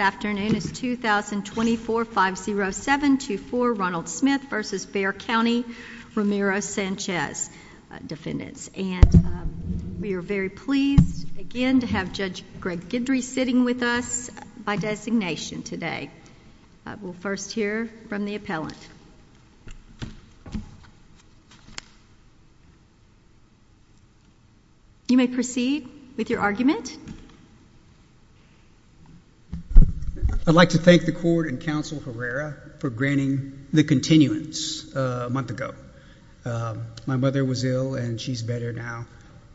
afternoon is 2024 50724 Ronald Smith v. Bexar County, Romero-Sanchez defendants. And we are very pleased again to have Judge Greg Guidry sitting with us by designation today. We'll first hear from the appellant. You may proceed with your statement. I'd like to thank the court and counsel Herrera for granting the continuance a month ago. My mother was ill and she's better now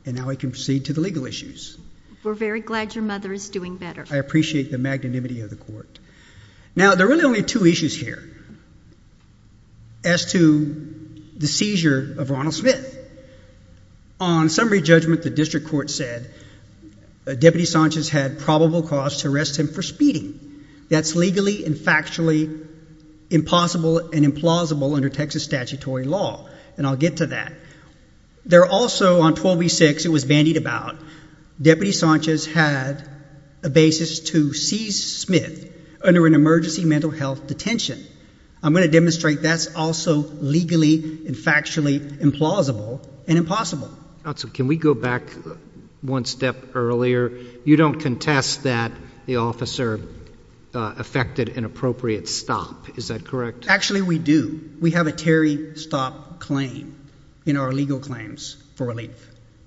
and now I can proceed to the legal issues. We're very glad your mother is doing better. I appreciate the magnanimity of the court. Now there are really only two issues here as to the seizure of Ronald Smith. On summary judgment the district court said Deputy Sanchez had probable cause to arrest him for speeding. That's legally and factually impossible and implausible under Texas statutory law. And I'll get to that. There also on 12 v 6 it was bandied about. Deputy Sanchez had a basis to seize Smith under an emergency mental health detention. I'm going to demonstrate that's also legally and factually implausible and impossible. Can we go back one step earlier? You don't contest that the officer affected an appropriate stop. Is that correct? Actually we do. We have a Terry stop claim in our legal claims for relief.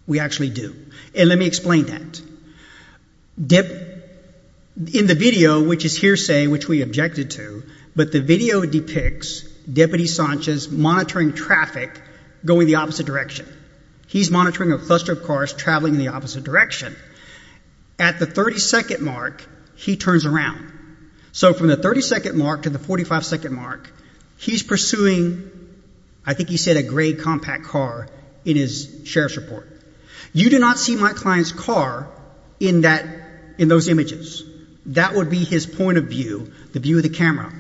We actually do. And let me explain that. In the video which is hearsay which we objected to, but the video depicts Deputy Sanchez monitoring traffic going the opposite direction. He's monitoring a cluster of cars traveling in the opposite direction. At the 30-second mark he turns around. So from the 30-second mark to the 45-second mark he's pursuing I think he said a gray compact car in his sheriff's report. You do not see my client's car in that in those images. That would be his point of view, the view of the camera.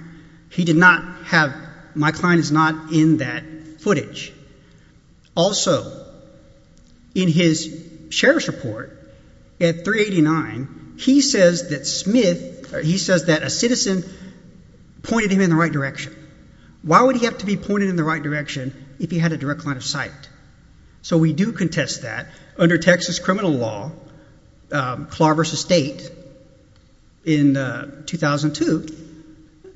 He did not have, my client is not in that footage. Also in his sheriff's report at 389 he says that Smith, he says that a citizen pointed him in the right direction. Why would he have to be pointed in the right direction if he had a direct line of sight? So we do contest that. Under Texas criminal law, Clark v. State in 2002,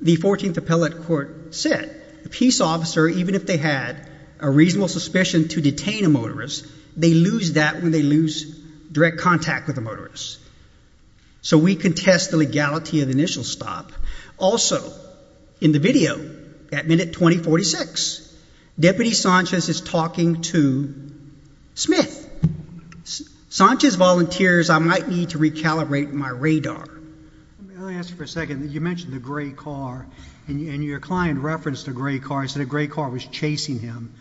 the 14th Appellate Court said the peace officer, even if they had a reasonable suspicion to detain a motorist, they lose that when they lose direct contact with the motorist. So we contest the legality of the initial stop. Also in the video at minute 2046, Deputy Sanchez is talking to Smith. Sanchez volunteers I might need to recalibrate my radar. Let me ask you for a second. You mentioned the gray car and your client referenced a gray car. He said a gray car was chasing him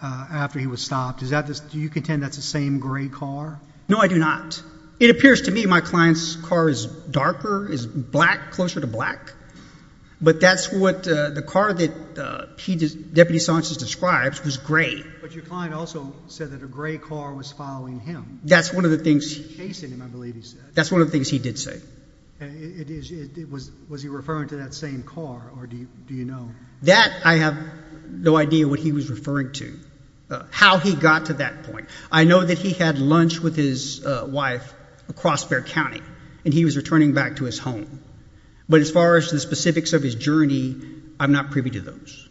after he was stopped. Is that this, do you contend that's the same gray car? No, I do not. It appears to me my client's car is darker, is black, closer to black, but that's what the car that Deputy Sanchez described was gray. But your client also said that a gray car was following him. That's one of the things he did say. Was he referring to that same car or do you know? That I have no idea what he was referring to. How he got to that point. I know that he had lunch with his wife across Bexar County and he was returning back to his home. But as far as the specifics of his journey, I'm not privy to those.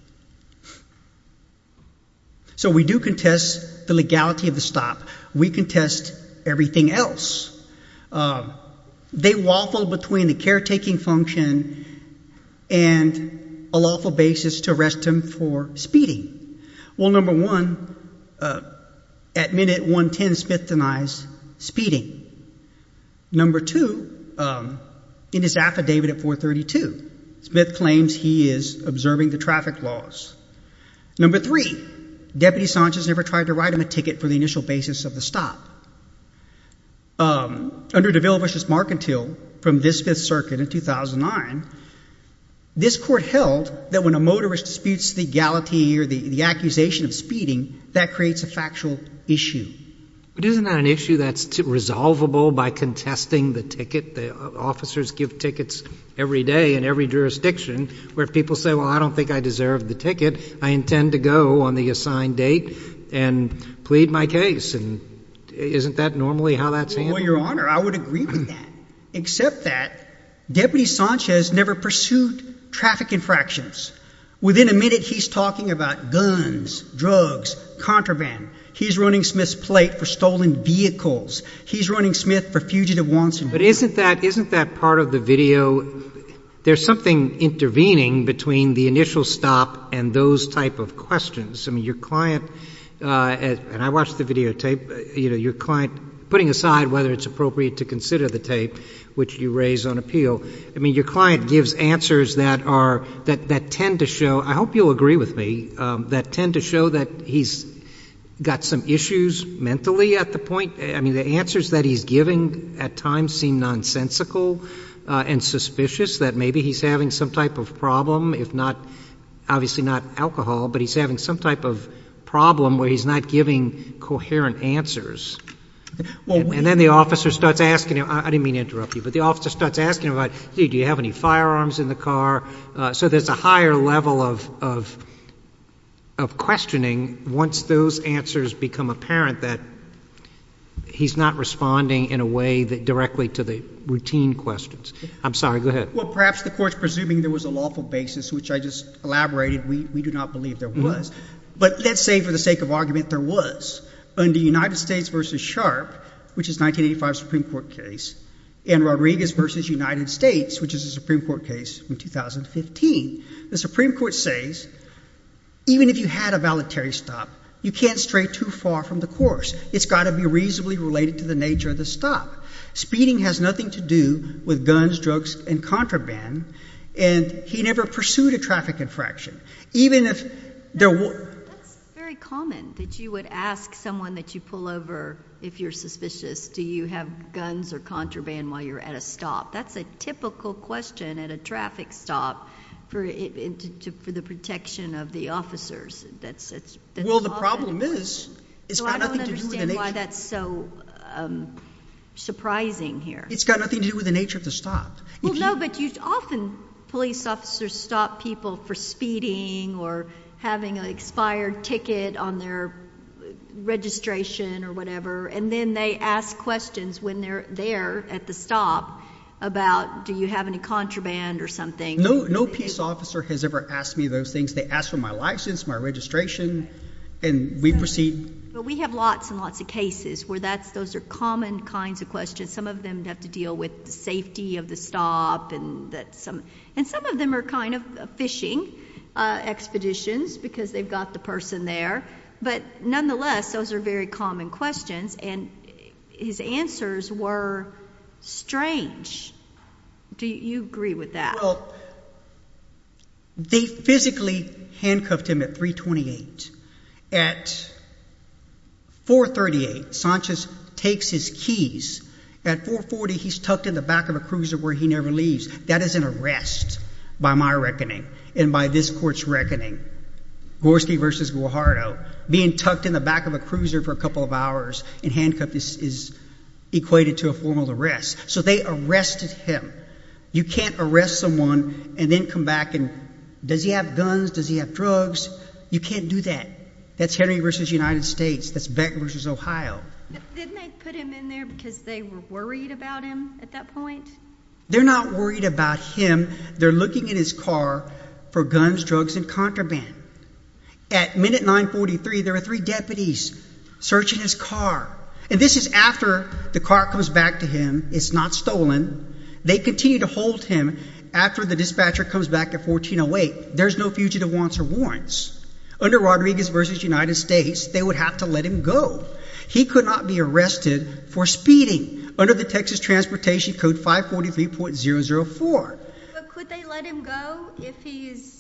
So we do contest the legality of the stop. We contest everything else. They waffled between the caretaking function and a lawful basis to arrest him for speeding. Well number one, at minute 110 Smith denies speeding. Number two, in his affidavit at 432, Smith claims he is observing the traffic laws. Number three, Deputy Sanchez never tried to write him a ticket for the initial basis of the stop. Under De Villavich's Mark and Till from this Fifth Circuit in 2009, this court held that when a motorist disputes the legality or the accusation of speeding, that creates a factual issue. But isn't that an issue that's resolvable by contesting the ticket? The officers give tickets every day in every jurisdiction where people say, well I don't think I deserve the ticket. I intend to go on the assigned date and plead my case. And isn't that normally how that's handled? Well your honor, I would agree with that. Except that Deputy Sanchez never pursued traffic infractions. Within a minute he's talking about guns, drugs, contraband. He's running Smith's plate for stolen vehicles. He's running Smith for fugitive wants and wants. But isn't that part of the video, there's something intervening between the initial stop and those type of questions. I mean your client, and I watched the videotape, you know your client, putting aside whether it's appropriate to consider the tape which you raise on appeal, I mean your client gives answers that tend to show, I hope you'll agree with me, that tend to show that he's got some issues mentally at the point, I mean the answers that he's giving at times seem nonsensical and suspicious, that maybe he's having some type of problem, if not, obviously not alcohol, but he's having some type of problem where he's not giving coherent answers. And then the officer starts asking him, I didn't mean to interrupt you, but the officer starts asking him, do you have any firearms in the car? So there's a higher level of questioning once those answers become apparent that he's not responding in a way that directly to the routine questions. I'm sorry, go ahead. Well perhaps the court's presuming there was a lawful basis, which I just elaborated, we do not believe there was. But let's say for the sake of argument there was. Under United States versus Sharp, which is 1985 Supreme Court case, and Rodriguez versus United States, which is a Supreme Court case in 2015, the Supreme Court says, even if you had a voluntary stop, you can't stray too far from the course. It's got to be reasonably related to the nature of the stop. Speeding has nothing to do with guns, drugs, and contraband, and he never pursued a traffic infraction, even if there were. That's very common, that you would ask someone that you pull over if you're suspicious, do you have guns or contraband while you're at a stop? That's a typical question at a traffic stop for the protection of the officers. Well the problem is, it's got nothing to do with the nature of the stop. I don't understand why that's so surprising here. It's got nothing to do with the nature of the stop. Well no, but often police officers stop people for speeding or having an expired ticket on their registration or whatever, and then they ask questions when they're there at the stop about, do you have any contraband or something. No police officer has ever asked me those things. They ask for my license, my registration, and we proceed. But we have lots and lots of cases where those are common kinds of questions. Some of them have to deal with the safety of the stop, and some of them are kind of fishing expeditions because they've got the person there. But nonetheless, those are very common questions, and his answers were strange. Do you agree with that? Well, they physically handcuffed him at 328. At 438, Sanchez takes his keys. At 440, he's tucked in the back of a cruiser where he never leaves. That is an arrest by my reckoning and by this court's reckoning. Gorski versus Guajardo, being tucked in the back of a cruiser for a couple of hours and handcuffed is equated to a formal arrest. So they arrested him. You can't arrest someone and then come back and, does he have guns? Does he have drugs? You can't do that. That's Henry versus United States. That's Beck versus Ohio. But didn't they put him in there because they were worried about him at that point? They're not worried about him. They're looking in his car for guns, drugs, and contraband. At minute 943, there are three deputies searching his car, and this is after the car comes back to him. It's not stolen. They continue to hold him after the dispatcher comes back at 1408. There's no fugitive wants or warrants. Under Rodriguez versus United States, they would have to let him go. He could not be arrested for speeding under the Texas Transportation Code 543.004. But could they let him go if he's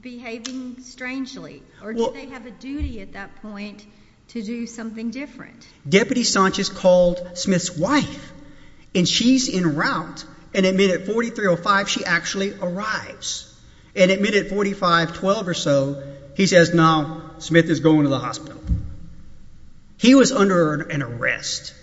behaving strangely, or do they have a duty at that point to do something different? Deputy Sanchez called Smith's wife, and she's in route, and at minute 4305, she actually arrives. And at minute 4512 or so, he says, now Smith is going to the hospital. He was under an arrest.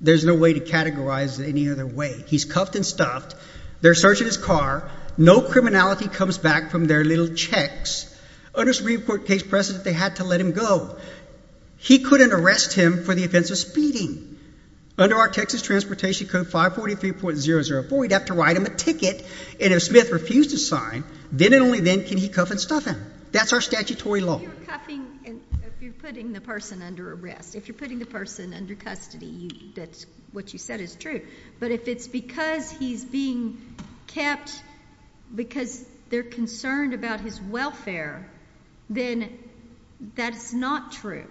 There's no way to categorize it any other way. He's cuffed and stuffed. They're searching his car. No criminality comes back from their little checks. Under Supreme Court case precedent, they had to let him go. He couldn't arrest him for the offense of speeding. Under our Texas then and only then can he cuff and stuff him. That's our statutory law. If you're putting the person under arrest, if you're putting the person under custody, that's what you said is true. But if it's because he's being kept because they're concerned about his welfare, then that's not true.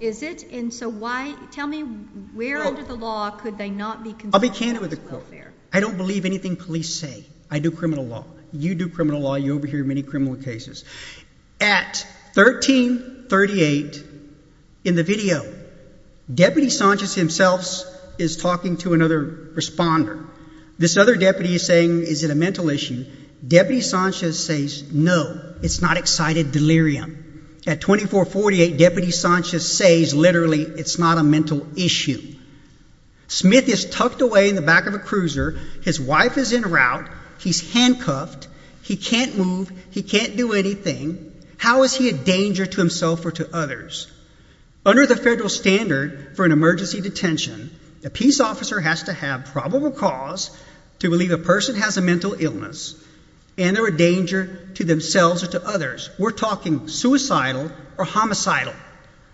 Is it? And so why, tell me, where under the law could they not be concerned? I'll be candid with the court. I don't believe anything police say. I do criminal law. You do criminal law. You overhear many criminal cases. At 1338, in the video, Deputy Sanchez himself is talking to another responder. This other deputy is saying, is it a mental issue? Deputy Sanchez says, no, it's not excited delirium. At 2448, Deputy Sanchez says, literally, it's not a mental issue. Smith is tucked away in the back of a cruiser. His wife is in route. He's handcuffed. He can't move. He can't do anything. How is he a danger to himself or to others? Under the federal standard for an emergency detention, a peace officer has to have probable cause to believe a person has a mental illness and they're a danger to themselves or to others. We're talking suicidal or homicidal.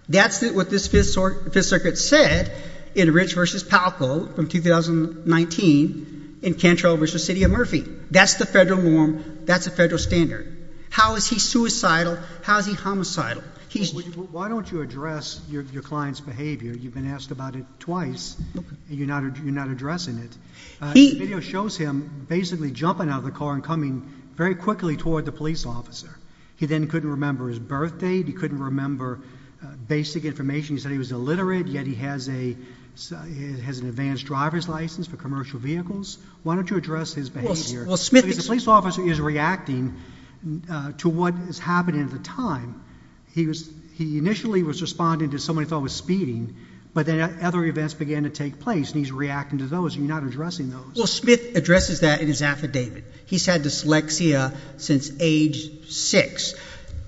That's what this Fifth Circuit said in Rich versus Palco from 2019 in Cantrell versus City of Murphy. That's the federal norm. That's a federal standard. How is he suicidal? How is he homicidal? Why don't you address your client's behavior? You've been asked about it twice. You're not addressing it. The video shows him basically jumping out of the car and coming very quickly toward the police officer. He then couldn't remember his birth date. He couldn't remember basic information. He said he was illiterate, yet he has an advanced driver's license for commercial vehicles. Why don't you address his behavior? The police officer is reacting to what is happening at the time. He initially was responding to someone he thought was speeding, but then other events began to take place and he's reacting to those. You're not responding. He's had dyslexia since age six.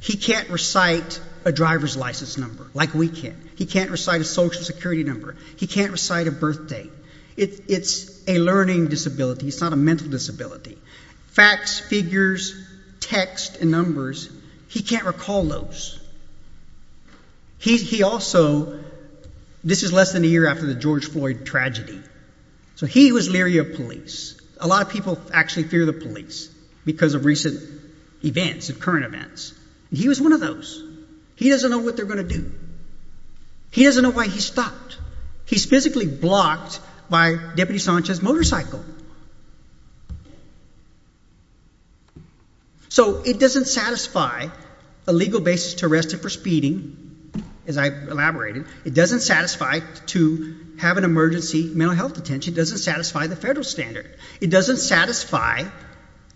He can't recite a driver's license number like we can. He can't recite a social security number. He can't recite a birth date. It's a learning disability. It's not a mental disability. Facts, figures, text, and numbers, he can't recall those. He also, this is less than a year after the George Floyd tragedy, so he was leery of police. A lot of people actually fear the police because of recent events and current events. He was one of those. He doesn't know what they're going to do. He doesn't know why he stopped. He's physically blocked by Deputy Sanchez's motorcycle. So it doesn't satisfy a legal basis to arrest him for speeding, as I've elaborated. It doesn't satisfy to have an emergency mental health detention. It doesn't satisfy the federal standard. It doesn't satisfy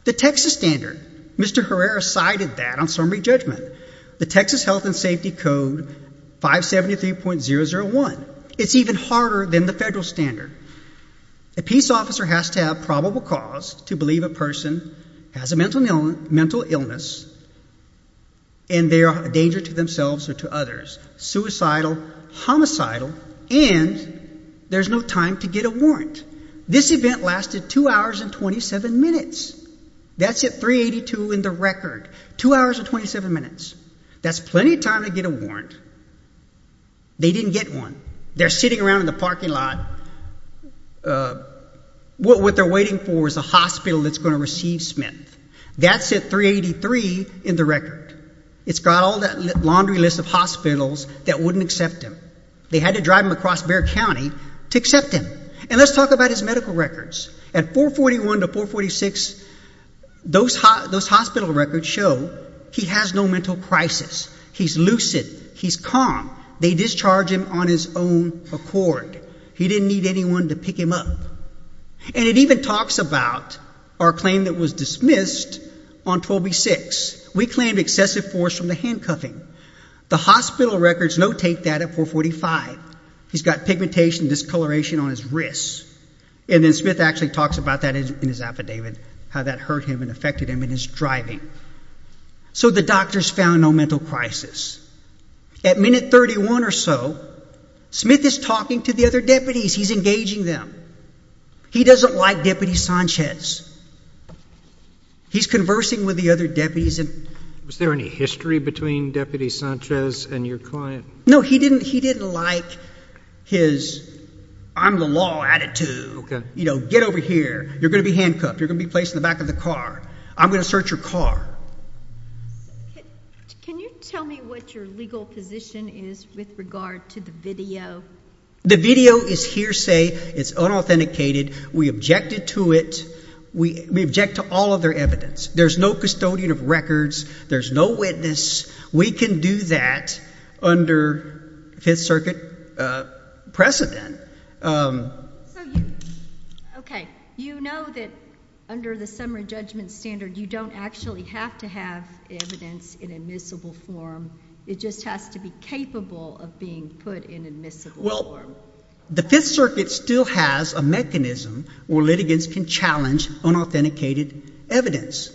the Texas standard. Mr. Herrera cited that on summary judgment. The Texas Health and Safety Code 573.001. It's even harder than the federal standard. A peace officer has to have probable cause to believe a person has a mental illness and they are a danger to themselves or to others, suicidal, homicidal, and there's no time to get a warrant. This event lasted two hours and 27 minutes. That's at 382.00 in the record. Two hours and 27 minutes. That's plenty of time to get a warrant. They didn't get one. They're sitting around in the parking lot. What they're waiting for is a hospital that's going to receive Smith. That's at 383.00 in the record. It's got all that laundry list of hospitals that wouldn't accept him. They had to drive him across Bexar County to accept him. And let's talk about his medical records. At 441.00 to 446.00, those hospital records show he has no mental crisis. He's lucid. He's calm. They discharged him on his own accord. He didn't need anyone to pick him up. And it even talks about our claim that was dismissed on 12B6.00. We claimed excessive force from the handcuffing. The hospital records notate that at 445.00. He's got pigmentation, discoloration on his wrists. And then Smith actually talks about that in his affidavit, how that hurt him and affected him in his driving. So the doctors found no mental crisis. At minute 31.00 or so, Smith is talking to the other deputies. He's engaging them. He doesn't like Deputy Sanchez. He's conversing with the other deputies. Was there any history between Deputy Sanchez and your client? No. He didn't like his I'm the law attitude. You know, get over here. You're going to be handcuffed. You're going to be placed in the back of the car. I'm going to search your car. Can you tell me what your legal position is with regard to the video? The video is hearsay. It's unauthenticated. We objected to it. We object to all other evidence. There's no custodian of records. There's no witness. We can do that under Fifth Circuit precedent. Okay. You know that under the summary judgment standard, you don't actually have to have evidence in admissible form. It just has to be capable of being put in admissible form. Well, the Fifth Circuit still has a mechanism where litigants can challenge unauthenticated evidence.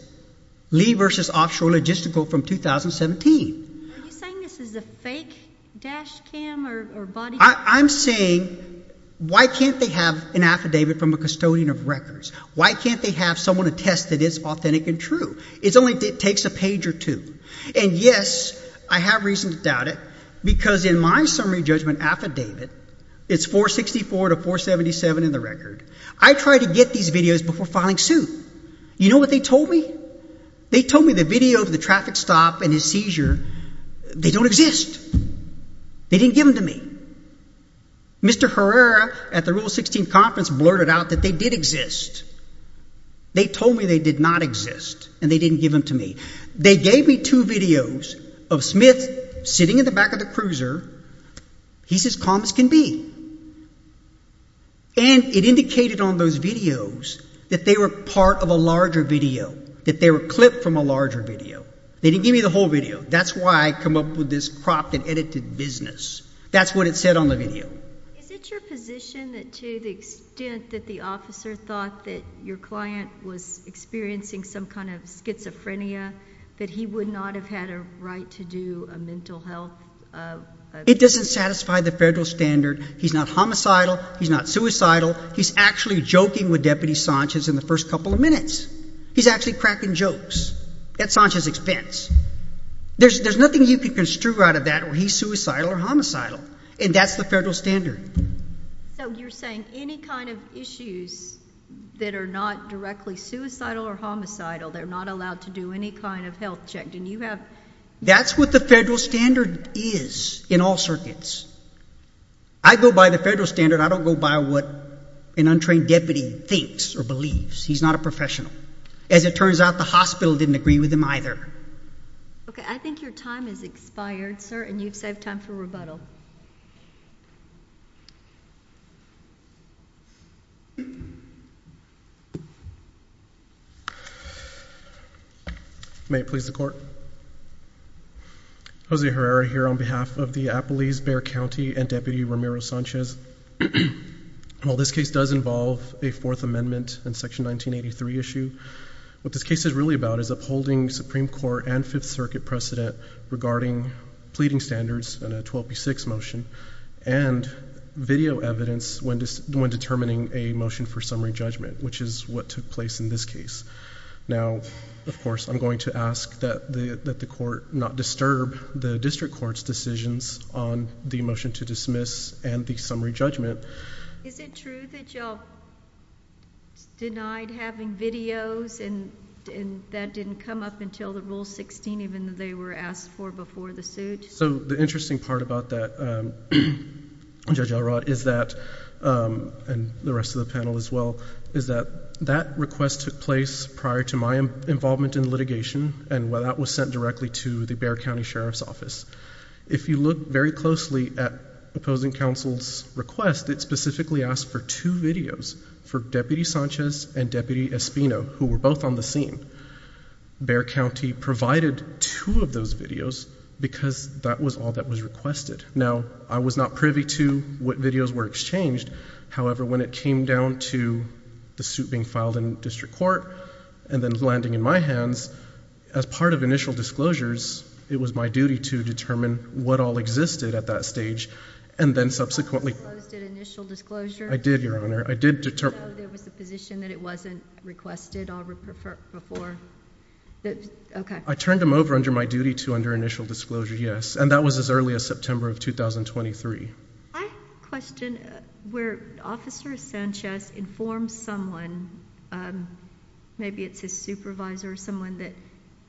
Lee v. Offshore Logistical from 2017. Are you saying this is a fake dash cam or body? I'm saying, why can't they have an affidavit from a custodian of records? Why can't they have someone attest that it's authentic and true? It only takes a page or two. And yes, I have reason to doubt it, because in my summary judgment affidavit, it's 464 to 477 in the record. I tried to get these videos before filing suit. You know what they told me? They told me the video of the traffic stop and his seizure, they don't exist. They didn't give them to me. Mr. Herrera at the Rule 16 Conference blurted out that they did exist. They told me they did not exist, and they didn't give them to me. They gave me two videos of Smith sitting in the back of the cruiser. He's as calm as can be. And it indicated on those videos that they were part of a larger video, that they were clipped from a larger video. They didn't give me the whole video. That's why I come up with this crop that edited business. That's what it said on the video. Is it your position that to the extent that the officer thought that your client was experiencing some kind of schizophrenia, that he would not have had a right to do a mental health? It doesn't satisfy the federal standard. He's not homicidal. He's not suicidal. He's actually joking with Deputy Sanchez in the first couple of minutes. He's actually cracking jokes at Sanchez's expense. There's nothing you can construe out of that where he's suicidal or homicidal, and that's the federal standard. So you're saying any kind of issues that are not directly suicidal or homicidal, they're not allowed to do any kind of health check? That's what the federal standard is in all circuits. I go by the federal standard. I don't go by what an untrained deputy thinks or believes. He's not a professional. As it turns out, the hospital didn't agree with him either. Okay, I think your time has expired, sir, and you've saved time for rebuttal. May it please the court. Jose Herrera here on behalf of the Appalese-Bear County and Deputy Ramiro Sanchez. While this case does involve a Fourth Amendment and Section 1983 issue, what this case is really about is upholding Supreme Court and Fifth Circuit precedent regarding pleading standards and a 12B6 motion and video evidence when determining a motion for judgment, which is what took place in this case. Now, of course, I'm going to ask that the court not disturb the district court's decisions on the motion to dismiss and the summary judgment. Is it true that y'all denied having videos and that didn't come up until the Rule 16, even though they were asked for before the suit? So the interesting part about that, Judge Elrod, is that, and the rest of the panel as well, is that that request took place prior to my involvement in litigation and that was sent directly to the Bear County Sheriff's Office. If you look very closely at opposing counsel's request, it specifically asked for two videos for Deputy Sanchez and Deputy Espino, who were both on the scene. Bear County provided two of those videos because that was all that was requested. Now, I was not privy to what videos were exchanged. However, when it came down to the suit being filed in district court and then landing in my hands, as part of initial disclosures, it was my duty to determine what all existed at that stage and then subsequently... You didn't disclose the initial disclosure? I did, Your Honor. I did determine... So there was a position that it wasn't requested before? Okay. I turned them over under my duty to under initial disclosure, yes, and that was as early as September of 2023. I have a question. Where Officer Sanchez informs someone, maybe it's his supervisor or someone, that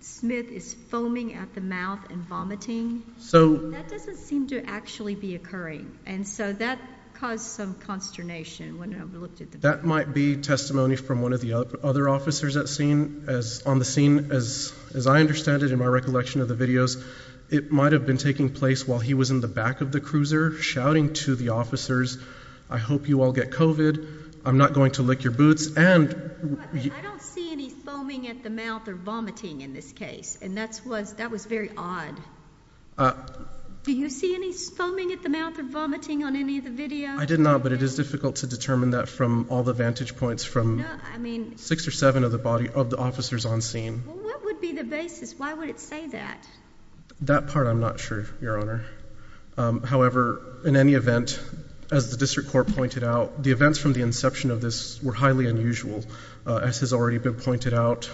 Smith is foaming at the mouth and vomiting, that doesn't seem to actually be occurring, and so that caused some consternation when I looked at the... That might be testimony from one of the other officers on the scene. As I understand it in my recollection of the videos, it might have been taking place while he was in the back of the cruiser shouting to the officers, I hope you all get COVID, I'm not going to lick your boots, and... I don't see any foaming at the mouth or vomiting in this case, and that was very odd. Do you see any foaming at the mouth or vomiting on any of the videos? I did not, but it is difficult to determine that from all the vantage points from six or seven of the officers on scene. What would be the basis? Why would it say that? That part I'm not sure, Your Honor. However, in any event, as the District Court pointed out, the events from the inception of this were highly unusual, as has already been pointed out,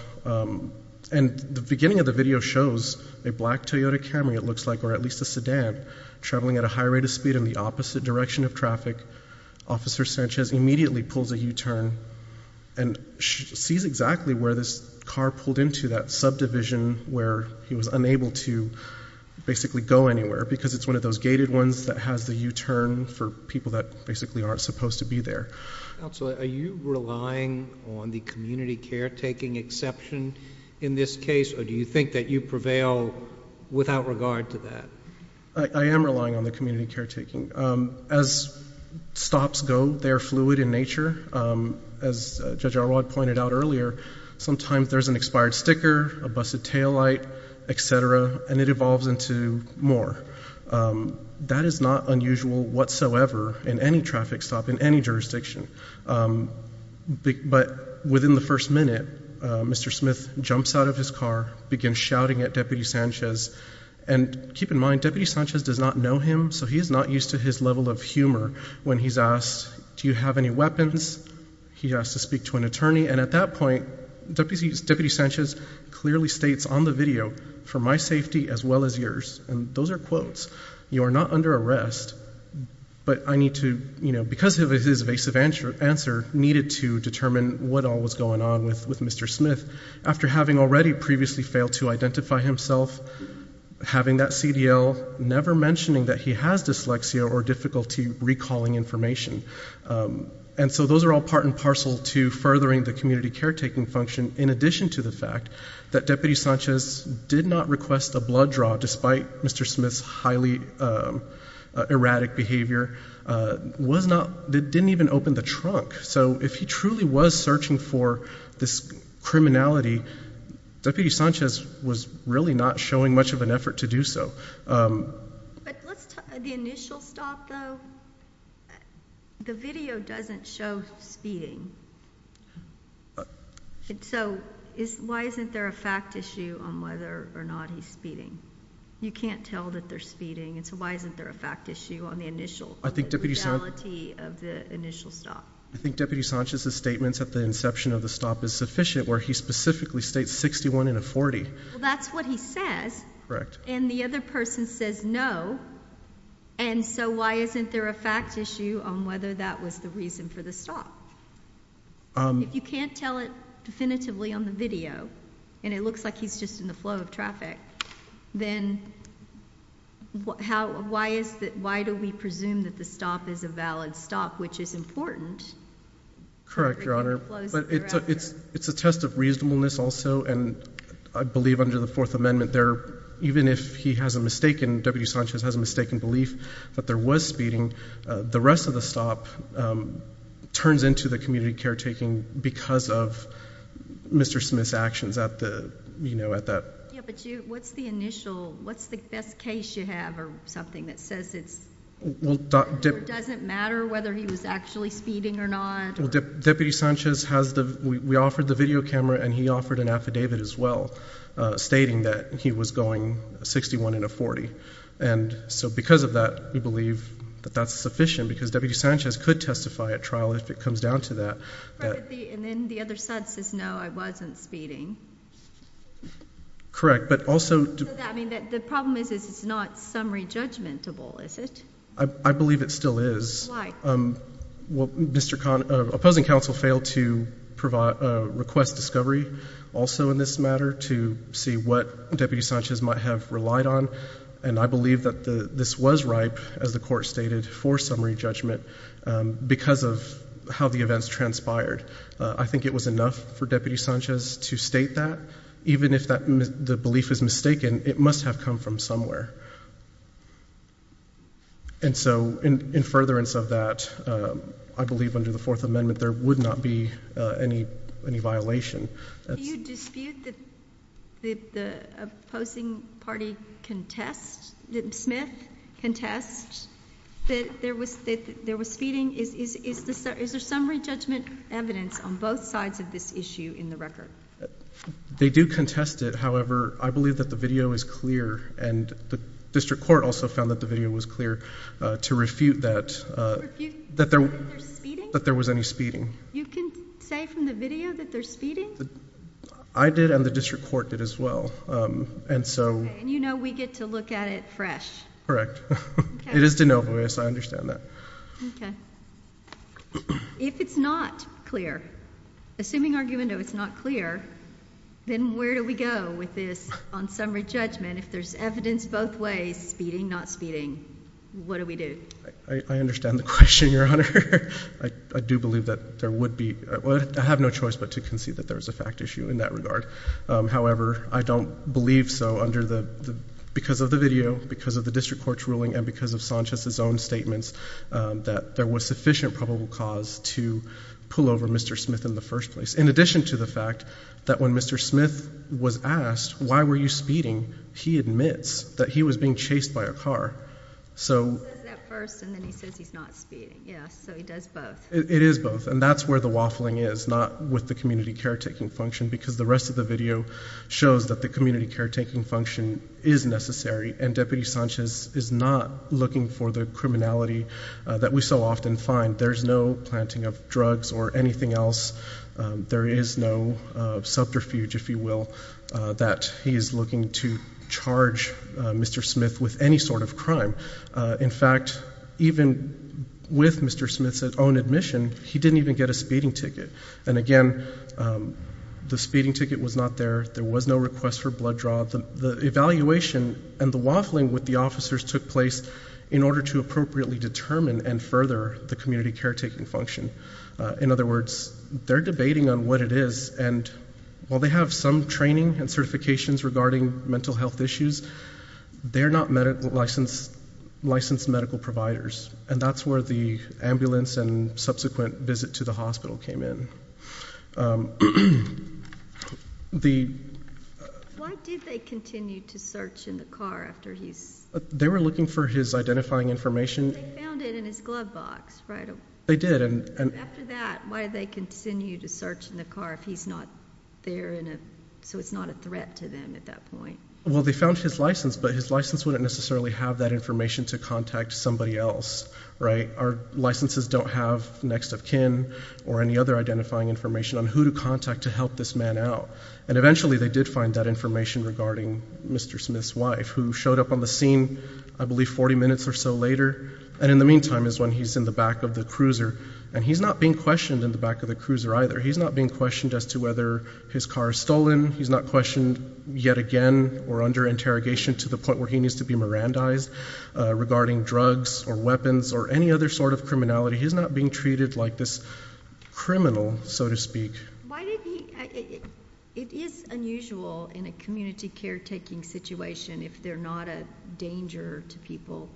and the beginning of the video shows a black Toyota Camry, it looks like, or at least a sedan traveling at a high rate of speed in the opposite direction of traffic. Officer Sanchez immediately pulls a U-turn and sees exactly where this car pulled into, that subdivision where he was unable to basically go anywhere, because it's one of those gated ones that has the U-turn for people that basically aren't supposed to be there. Are you relying on the community caretaking exception in this case, or do you think that you prevail without regard to that? I am relying on the community caretaking. As stops go, they are fluid in nature. As Judge Arwad pointed out earlier, sometimes there's an expired sticker, a busted taillight, et cetera, and it evolves into more. That is not unusual whatsoever in any traffic stop in any jurisdiction. But within the first minute, Mr. Smith jumps out of his car, begins shouting at Deputy Sanchez, and keep in mind, Deputy Sanchez does not know him, so he is not used to his level of humor when he's asked, do you have any weapons? He has to speak to an attorney. And at that point, Deputy Sanchez clearly states on the video, for my safety as well as yours, and those are quotes, you are not under arrest, but I need to, because of his evasive answer, needed to determine what all was going on with Mr. Smith after having already previously failed to identify himself, having that CDL, never mentioning that he has dyslexia or difficulty recalling information. And so those are all part and parcel to furthering the community caretaking function in addition to the fact that Deputy Sanchez did not request a blood draw despite Mr. Smith's highly erratic behavior, was not, didn't even open the trunk. So if he truly was searching for this criminality, Deputy Sanchez was really not showing much of an effort to do so. But let's talk, the initial stop though, the video doesn't show speeding. So why isn't there a fact issue on whether or not he's speeding? You can't tell that they're speeding, and so why isn't there a fact issue on the initial, the legality of the initial stop? I think Deputy Sanchez's statements at the inception of the stop is sufficient, where he specifically states 61 in a 40. That's what he says. Correct. And the other person says no, and so why isn't there a fact issue on whether that was the reason for the stop? If you can't tell it definitively on the video, and it looks like he's just in the flow of traffic, then why do we presume that the stop is a valid stop, which is important? Correct, Your Honor. But it's a test of reasonableness also, and I believe under the Fourth Amendment there, even if he has a mistaken, Deputy Sanchez has a mistaken belief that there was speeding, the rest of the stop turns into the community caretaking because of Mr. Smith's actions at the, you know, at that. Yeah, but you, what's the initial, what's the best case you have or something that says it doesn't matter whether he was actually speeding or not? Well, Deputy Sanchez has the, we offered the video camera, and he offered an affidavit as well, stating that he was going 61 in a 40, and so because of that, we believe that that's sufficient because Deputy Sanchez could testify at trial if it comes down to that. And then the other side says, no, I wasn't speeding. Correct, but also. I mean, the problem is it's not summary judgmentable, is it? I believe it still is. Why? Well, Mr. Conn, opposing counsel failed to request discovery also in this matter to see what Deputy Sanchez might have relied on, and I believe that this was ripe, as the court stated, for summary judgment because of how the events transpired. I think it was enough for Deputy Sanchez to state that. Even if the belief is mistaken, it must have come from somewhere. And so in furtherance of that, I believe under the Fourth Amendment, there would not be any violation. Do you dispute that the opposing party contests, that Smith contests that there was speeding? Is there summary judgment evidence on both sides of this issue in the record? They do contest it. However, I believe that the video is clear, and the District Court also found that the video was clear to refute that there was any speeding. You can say from the video that there's speeding? I did, and the District Court did as well. And you know we get to look at it fresh? Correct. It is de novo, yes, I understand that. If it's not clear, assuming argument it was not clear, then where do we go with this on summary judgment? If there's evidence both ways, speeding, not speeding, what do we do? I understand the question, Your Honor. I do believe that there would be, I have no choice but to concede that there's a fact issue in that regard. However, I don't believe so under the, because of the video, because of the District Court's ruling, and because of Sanchez's own statements, that there was sufficient probable cause to pull over Mr. Smith in the first place, in addition to the fact that when Mr. Smith was asked, why were you speeding? He admits that he was being chased by a car. He says that first, and then he says he's not speeding. Yes, so he does both. It is both, and that's where the waffling is, not with the community caretaking function, because the rest of the video shows that the community caretaking function is necessary, and Deputy Sanchez is not looking for the criminality that we so often find. There's no planting of drugs or anything else. There is no subterfuge, if you will, that he is looking to charge Mr. Smith with any sort of crime. In fact, even with Mr. Smith's own admission, he didn't even get a speeding ticket, and again, the speeding ticket was not there. There was no request for blood draw. The evaluation and the waffling with the officers took place in order to appropriately determine and further the community caretaking function. In other words, they're debating on what it is, and while they have some training and certifications regarding mental health issues, they're not licensed medical providers, and that's where the ambulance and subsequent visit to the hospital came in. Why did they continue to search in the car after he's? They were looking for his identifying information. They found it in his glove box, right? They did. After that, why did they continue to search in the car if he's not there, so it's not a threat to them at that point? Well, they found his license, but his license wouldn't necessarily have that information to contact somebody else, right? Our licenses don't have next of kin or any other identifying information on who to contact to help this man out, and eventually they did find that information regarding Mr. Smith's wife, who showed up on the scene, I believe 40 minutes or so later, and in the meantime is when he's in the back of the cruiser, and he's not being questioned in the back of the cruiser either. He's not being questioned as to whether his car is stolen. He's not questioned yet again or under interrogation to the point where he needs to be Mirandized regarding drugs or weapons or any other sort of criminality. He's not being treated like this criminal, so to speak. It is unusual in a community caretaking situation if they're not a danger to people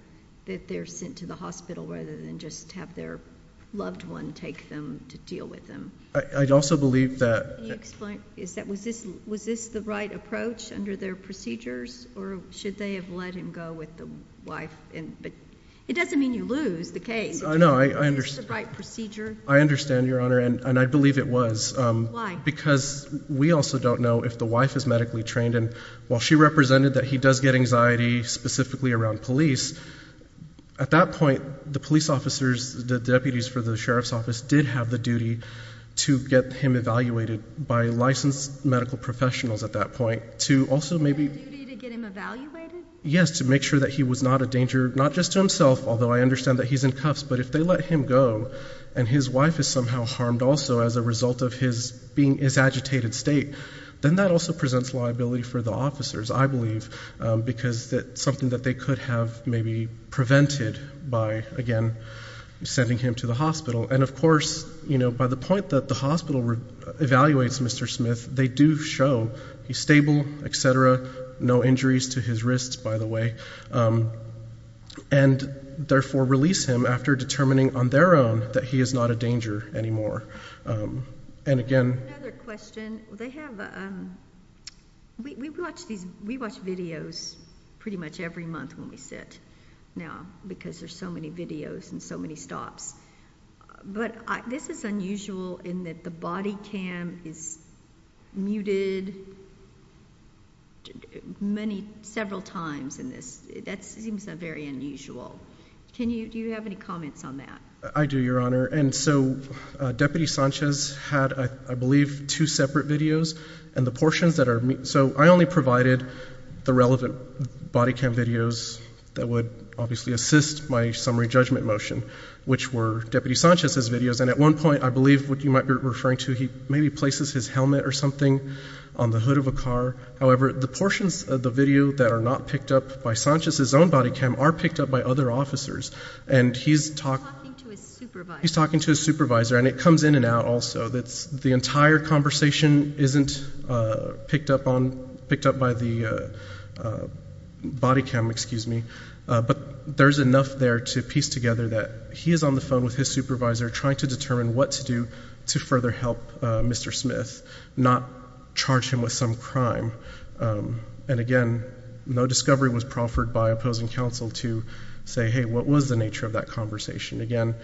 that they're sent to the hospital rather than just have their loved one take them to deal with them. I also believe that... Can you explain? Was this the right approach under their procedures, or should they have let him go with the wife? It doesn't mean you lose the case. No, I understand. It's the right procedure. I understand, Your Honor, and I believe it was. Why? Because we also don't know if the wife is medically trained, and while she represented that he does get anxiety specifically around police, at that point, the police officers, the deputies for the sheriff's office, did have the duty to get him evaluated by licensed medical professionals at that point to also maybe... The duty to get him evaluated? Yes, to make sure that he was not a danger, not just to himself, although I understand that he's in cuffs, but if they let him go and his wife is somehow harmed also as a result of his agitated state, then that also presents liability for the officers, I believe, because that's something that they could have maybe prevented by, again, sending him to the hospital. And of course, by the point that the hospital evaluates Mr. Smith, they do show he's stable, et cetera, no injuries to his wrists, by the way, and therefore release him after determining on their own that he is not a danger anymore. And again... Another question. We watch videos pretty much every month when we sit now because there's so many videos and so many stops, but this is unusual in that the body cam is muted many, several times in this. That seems very unusual. Do you have any comments on that? I do, Your Honor, and so Deputy Sanchez had, I believe, two separate videos, and the portions that are... So I only provided the relevant body cam videos that would obviously assist my summary judgment motion, which were Deputy Sanchez's videos, and at one point, I believe what you might be referring to, he maybe places his helmet or something on the hood of a car. However, the portions of the video that are not picked up by Sanchez's own body cam are picked up by other officers, and he's talking to his supervisor, and it comes in and out also. The entire conversation isn't picked up by the body cam, but there's enough there to piece together that he is on the phone with his supervisor trying to determine what to do to further help Mr. Smith, not charge him with some crime. And again, no discovery was proffered by opposing counsel to say, hey, what was the nature of that conversation? Again,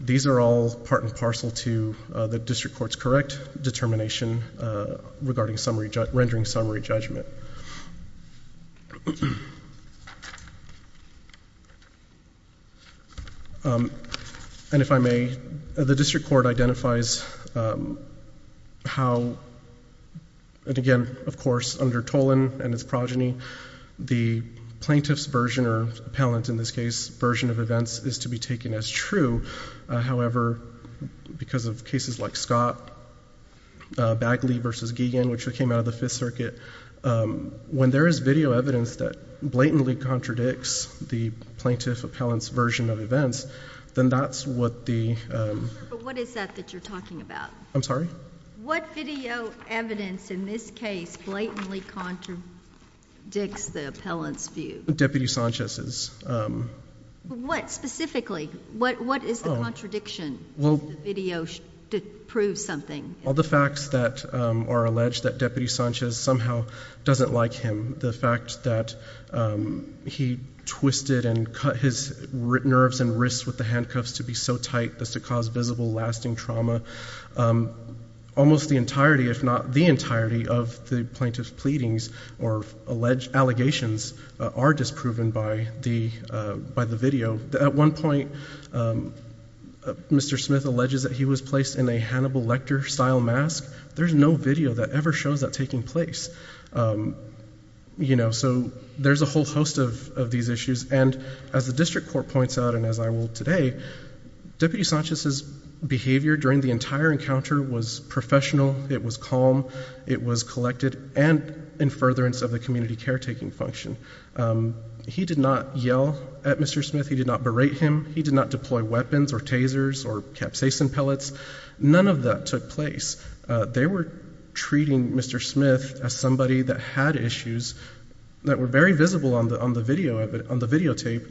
these are all in parcel to the district court's correct determination regarding rendering summary judgment. And if I may, the district court identifies how, and again, of course, under Tolan and his progeny, the plaintiff's version, or appellant in this case, version of events is to be taken as true. However, because of cases like Scott, Bagley v. Giegan, which came out of the Fifth Circuit, when there is video evidence that blatantly contradicts the plaintiff appellant's version of events, then that's what the... But what is that that you're talking about? I'm sorry? What video evidence in this case blatantly contradicts the appellant's view? Deputy Sanchez's. What specifically? What is the contradiction? Does the video prove something? All the facts that are alleged that Deputy Sanchez somehow doesn't like him. The fact that he twisted and cut his nerves and wrists with the handcuffs to be so tight as to cause visible, lasting trauma. Almost the entirety, if not the entirety, of the plaintiff's pleadings or alleged allegations are disproven by the video. At one point, Mr. Smith alleges that he was placed in a Hannibal Lecter-style mask. There's no video that ever shows that taking place. You know, so there's a whole host of these issues. And as the District Court points out, and as I will today, Deputy Sanchez's behavior during the entire encounter was professional, it was calm, it was collected, and in furtherance of the community caretaking function. He did not yell at Mr. Smith. He did not berate him. He did not deploy weapons or tasers or capsaicin pellets. None of that took place. They were treating Mr. Smith as somebody that had issues that were very visible on the videotape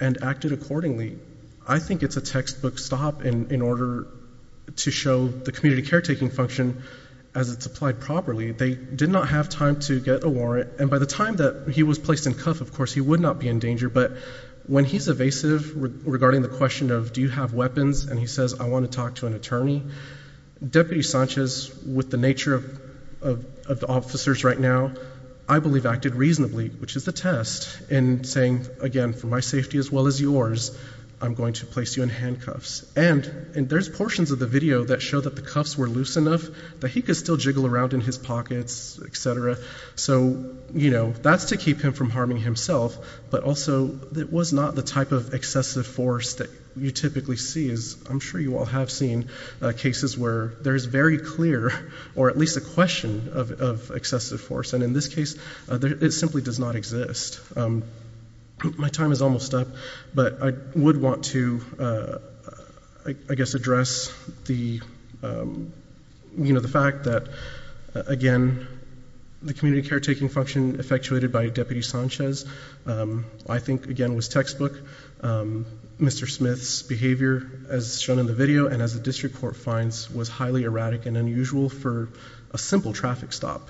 and acted accordingly. I think it's a textbook stop in order to show the community caretaking function as it's applied properly. They did not have time to get a warrant. And by the time that he was placed in cuff, of course, he would not be in danger. But when he's evasive regarding the question of do you have weapons and he says, I want to talk to an attorney, Deputy Sanchez, with the nature of the officers right now, I believe acted reasonably, which is the test, in saying, again, for my safety as well as yours, I'm going to place you in handcuffs. And there's portions of the video that show that the cuffs were loose enough that he could still jiggle around in his pockets, etc. So, you know, that's to keep him from harming himself. But also, it was not the type of excessive force that you typically see. I'm sure you all have seen cases where there's very clear or at least a question of excessive force. And in this case, it simply does not exist. My time is almost up. But I would want to, I guess, address the, you know, the fact that, again, the community caretaking function effectuated by Deputy Sanchez, I think, again, was textbook. Mr. Smith's behavior, as shown in the video, and as the district court finds, was highly erratic and unusual for a simple traffic stop.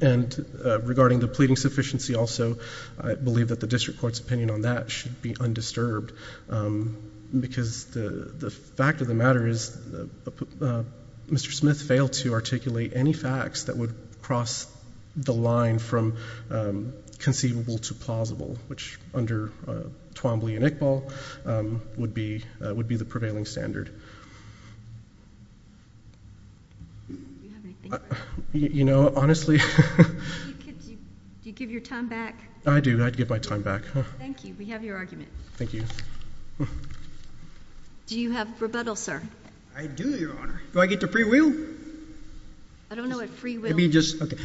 And regarding the pleading sufficiency also, I believe that the district court's opinion on that should be undisturbed. Because the fact of the matter is Mr. Smith failed to articulate any facts that would cross the line from conceivable to plausible, which under Twombly and Iqbal would be the prevailing standard. You know, honestly... Do you give your time back? I do. I'd give my time back. Thank you. We have your argument. Thank you. Do you have rebuttal, sir? I do, Your Honor. Do I get the free will? I don't know what free will... It'd be just... Okay.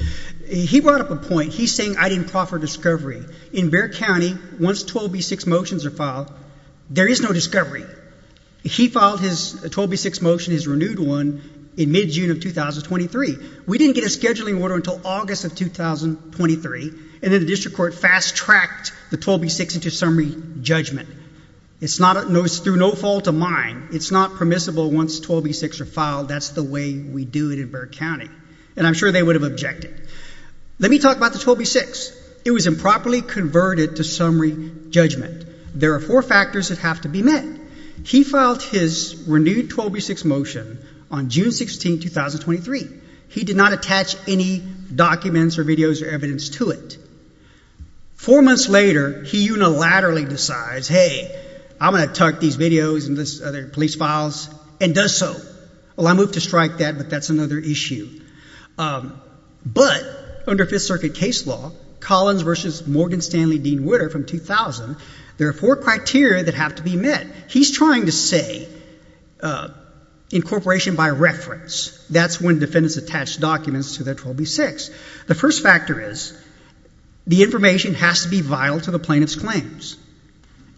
He brought up a point. He's saying I didn't proffer discovery. In Bexar County, once 12B6 motions are filed, there is no discovery. He filed his 12B6 motion, his renewed one, in mid-June of 2023. We didn't get a scheduling order until August of 2023, and then the district court fast-tracked the 12B6 into summary judgment. It's through no fault of mine. It's not permissible once 12B6 are filed. That's the way we do it in Bexar County, and I'm sure they would have objected. Let me talk about the 12B6. It was improperly converted to summary judgment. There are four factors that have to be met. He filed his renewed 12B6 motion on June 16, 2023. He did not attach any documents or videos or evidence to it. Four months later, he unilaterally decides, hey, I'm going to tuck these videos and these other police files, and does so. Well, I moved to strike that, but that's another issue. But under Fifth Circuit case law, Collins v. Morgan Stanley Dean Witter from 2000, there are four criteria that have to be met. He's trying to say incorporation by reference. That's when defendants attach documents to their 12B6. The first factor is the information has to be vital to the plaintiff's claims.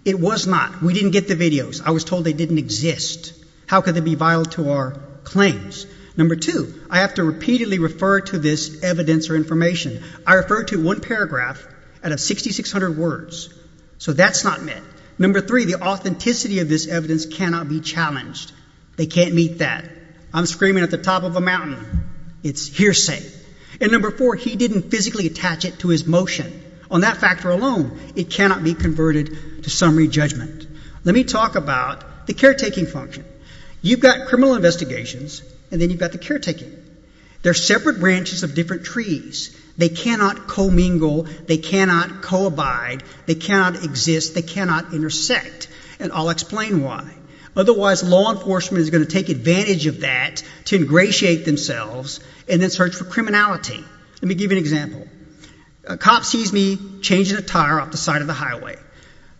It was not. We didn't get the videos. I was told they didn't exist. How could they be vital to our claims? Number two, I have to repeatedly refer to this evidence or information. I refer to one paragraph out of 6,600 words. So that's not met. Number three, the authenticity of this evidence cannot be challenged. They can't meet that. I'm screaming at the top of a mountain. It's hearsay. And number four, he didn't physically attach it to his motion. On that factor alone, it cannot be converted to summary judgment. Let me talk about the caretaking function. You've got criminal investigations, and then you've got the caretaking. They're separate branches of different trees. They cannot co-mingle. They cannot co-abide. They cannot exist. They cannot intersect. And I'll explain why. Otherwise, law enforcement is going to take advantage of that to ingratiate themselves and then search for criminality. Let me give you an example. A cop sees me changing a tire off the side of the highway.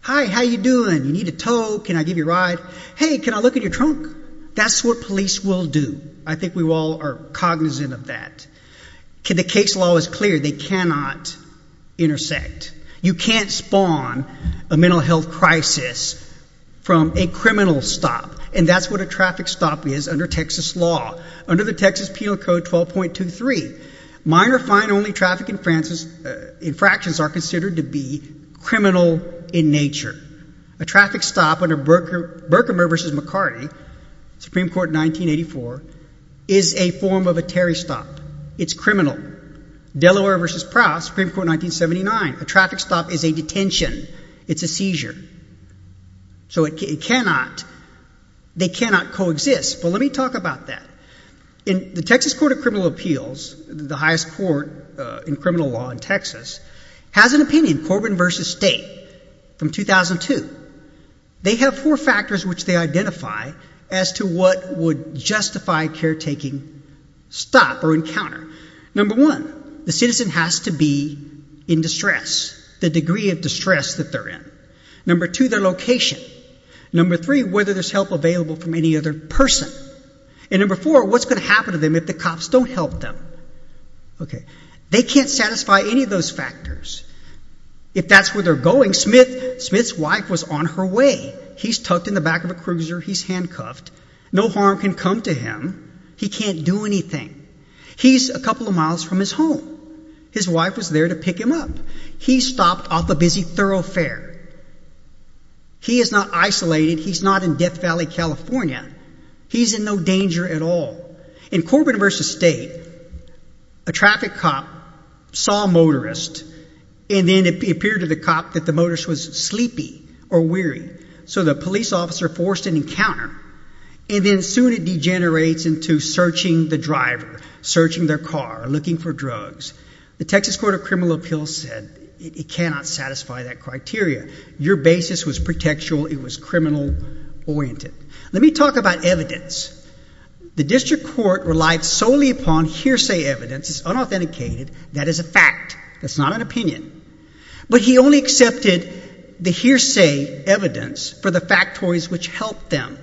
Hi, how you doing? You need a tow. Can I give you a ride? Hey, can I look at your trunk? That's what police will do. I think we all are cognizant of that. The case law is clear. They cannot intersect. You can't spawn a mental health crisis from a criminal stop, and that's what a traffic stop is under Texas law. Under the Texas Penal Code 12.23, minor fine-only traffic infractions are considered to be criminal in nature. A traffic stop under Berkmer v. McCarty, Supreme Court 1984, is a form of a Terry stop. It's criminal. Delaware v. Proust, Supreme Court 1979, a traffic stop is a detention. It's a seizure. So they cannot co-exist. But let me talk about that. In the Texas Court of Criminal Appeals, the highest court in criminal law in Texas, has an opinion, Corbin v. State, from 2002. They have four factors which they identify as to what would justify caretaking stop or encounter. Number one, the citizen has to be in distress, the degree of distress that they're in. Number two, their location. Number three, whether there's help available from any other person. And number four, what's going to happen if the cops don't help them? They can't satisfy any of those factors. If that's where they're going, Smith's wife was on her way. He's tucked in the back of a cruiser. He's handcuffed. No harm can come to him. He can't do anything. He's a couple of miles from his home. His wife was there to pick him up. He stopped off a busy thoroughfare. He is not isolated. He's not in distress. In Corbin v. State, a traffic cop saw a motorist and then it appeared to the cop that the motorist was sleepy or weary. So the police officer forced an encounter. And then soon it degenerates into searching the driver, searching their car, looking for drugs. The Texas Court of Criminal Appeals said it cannot satisfy that criteria. Your basis was pretextual. It was solely upon hearsay evidence. It's unauthenticated. That is a fact. That's not an opinion. But he only accepted the hearsay evidence for the factories which helped them.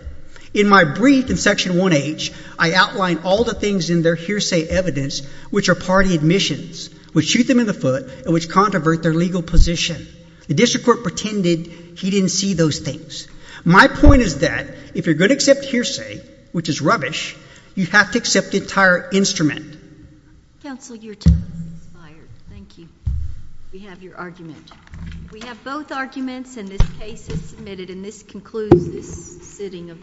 In my brief in Section 1H, I outlined all the things in their hearsay evidence which are party admissions, which shoot them in the foot, and which controvert their legal position. The district court pretended he didn't see those things. My point is that if you're going to accept hearsay, which is rubbish, you have to accept it as an entire instrument. Counsel, your time has expired. Thank you. We have your argument. We have both arguments and this case is submitted and this concludes this sitting of the court.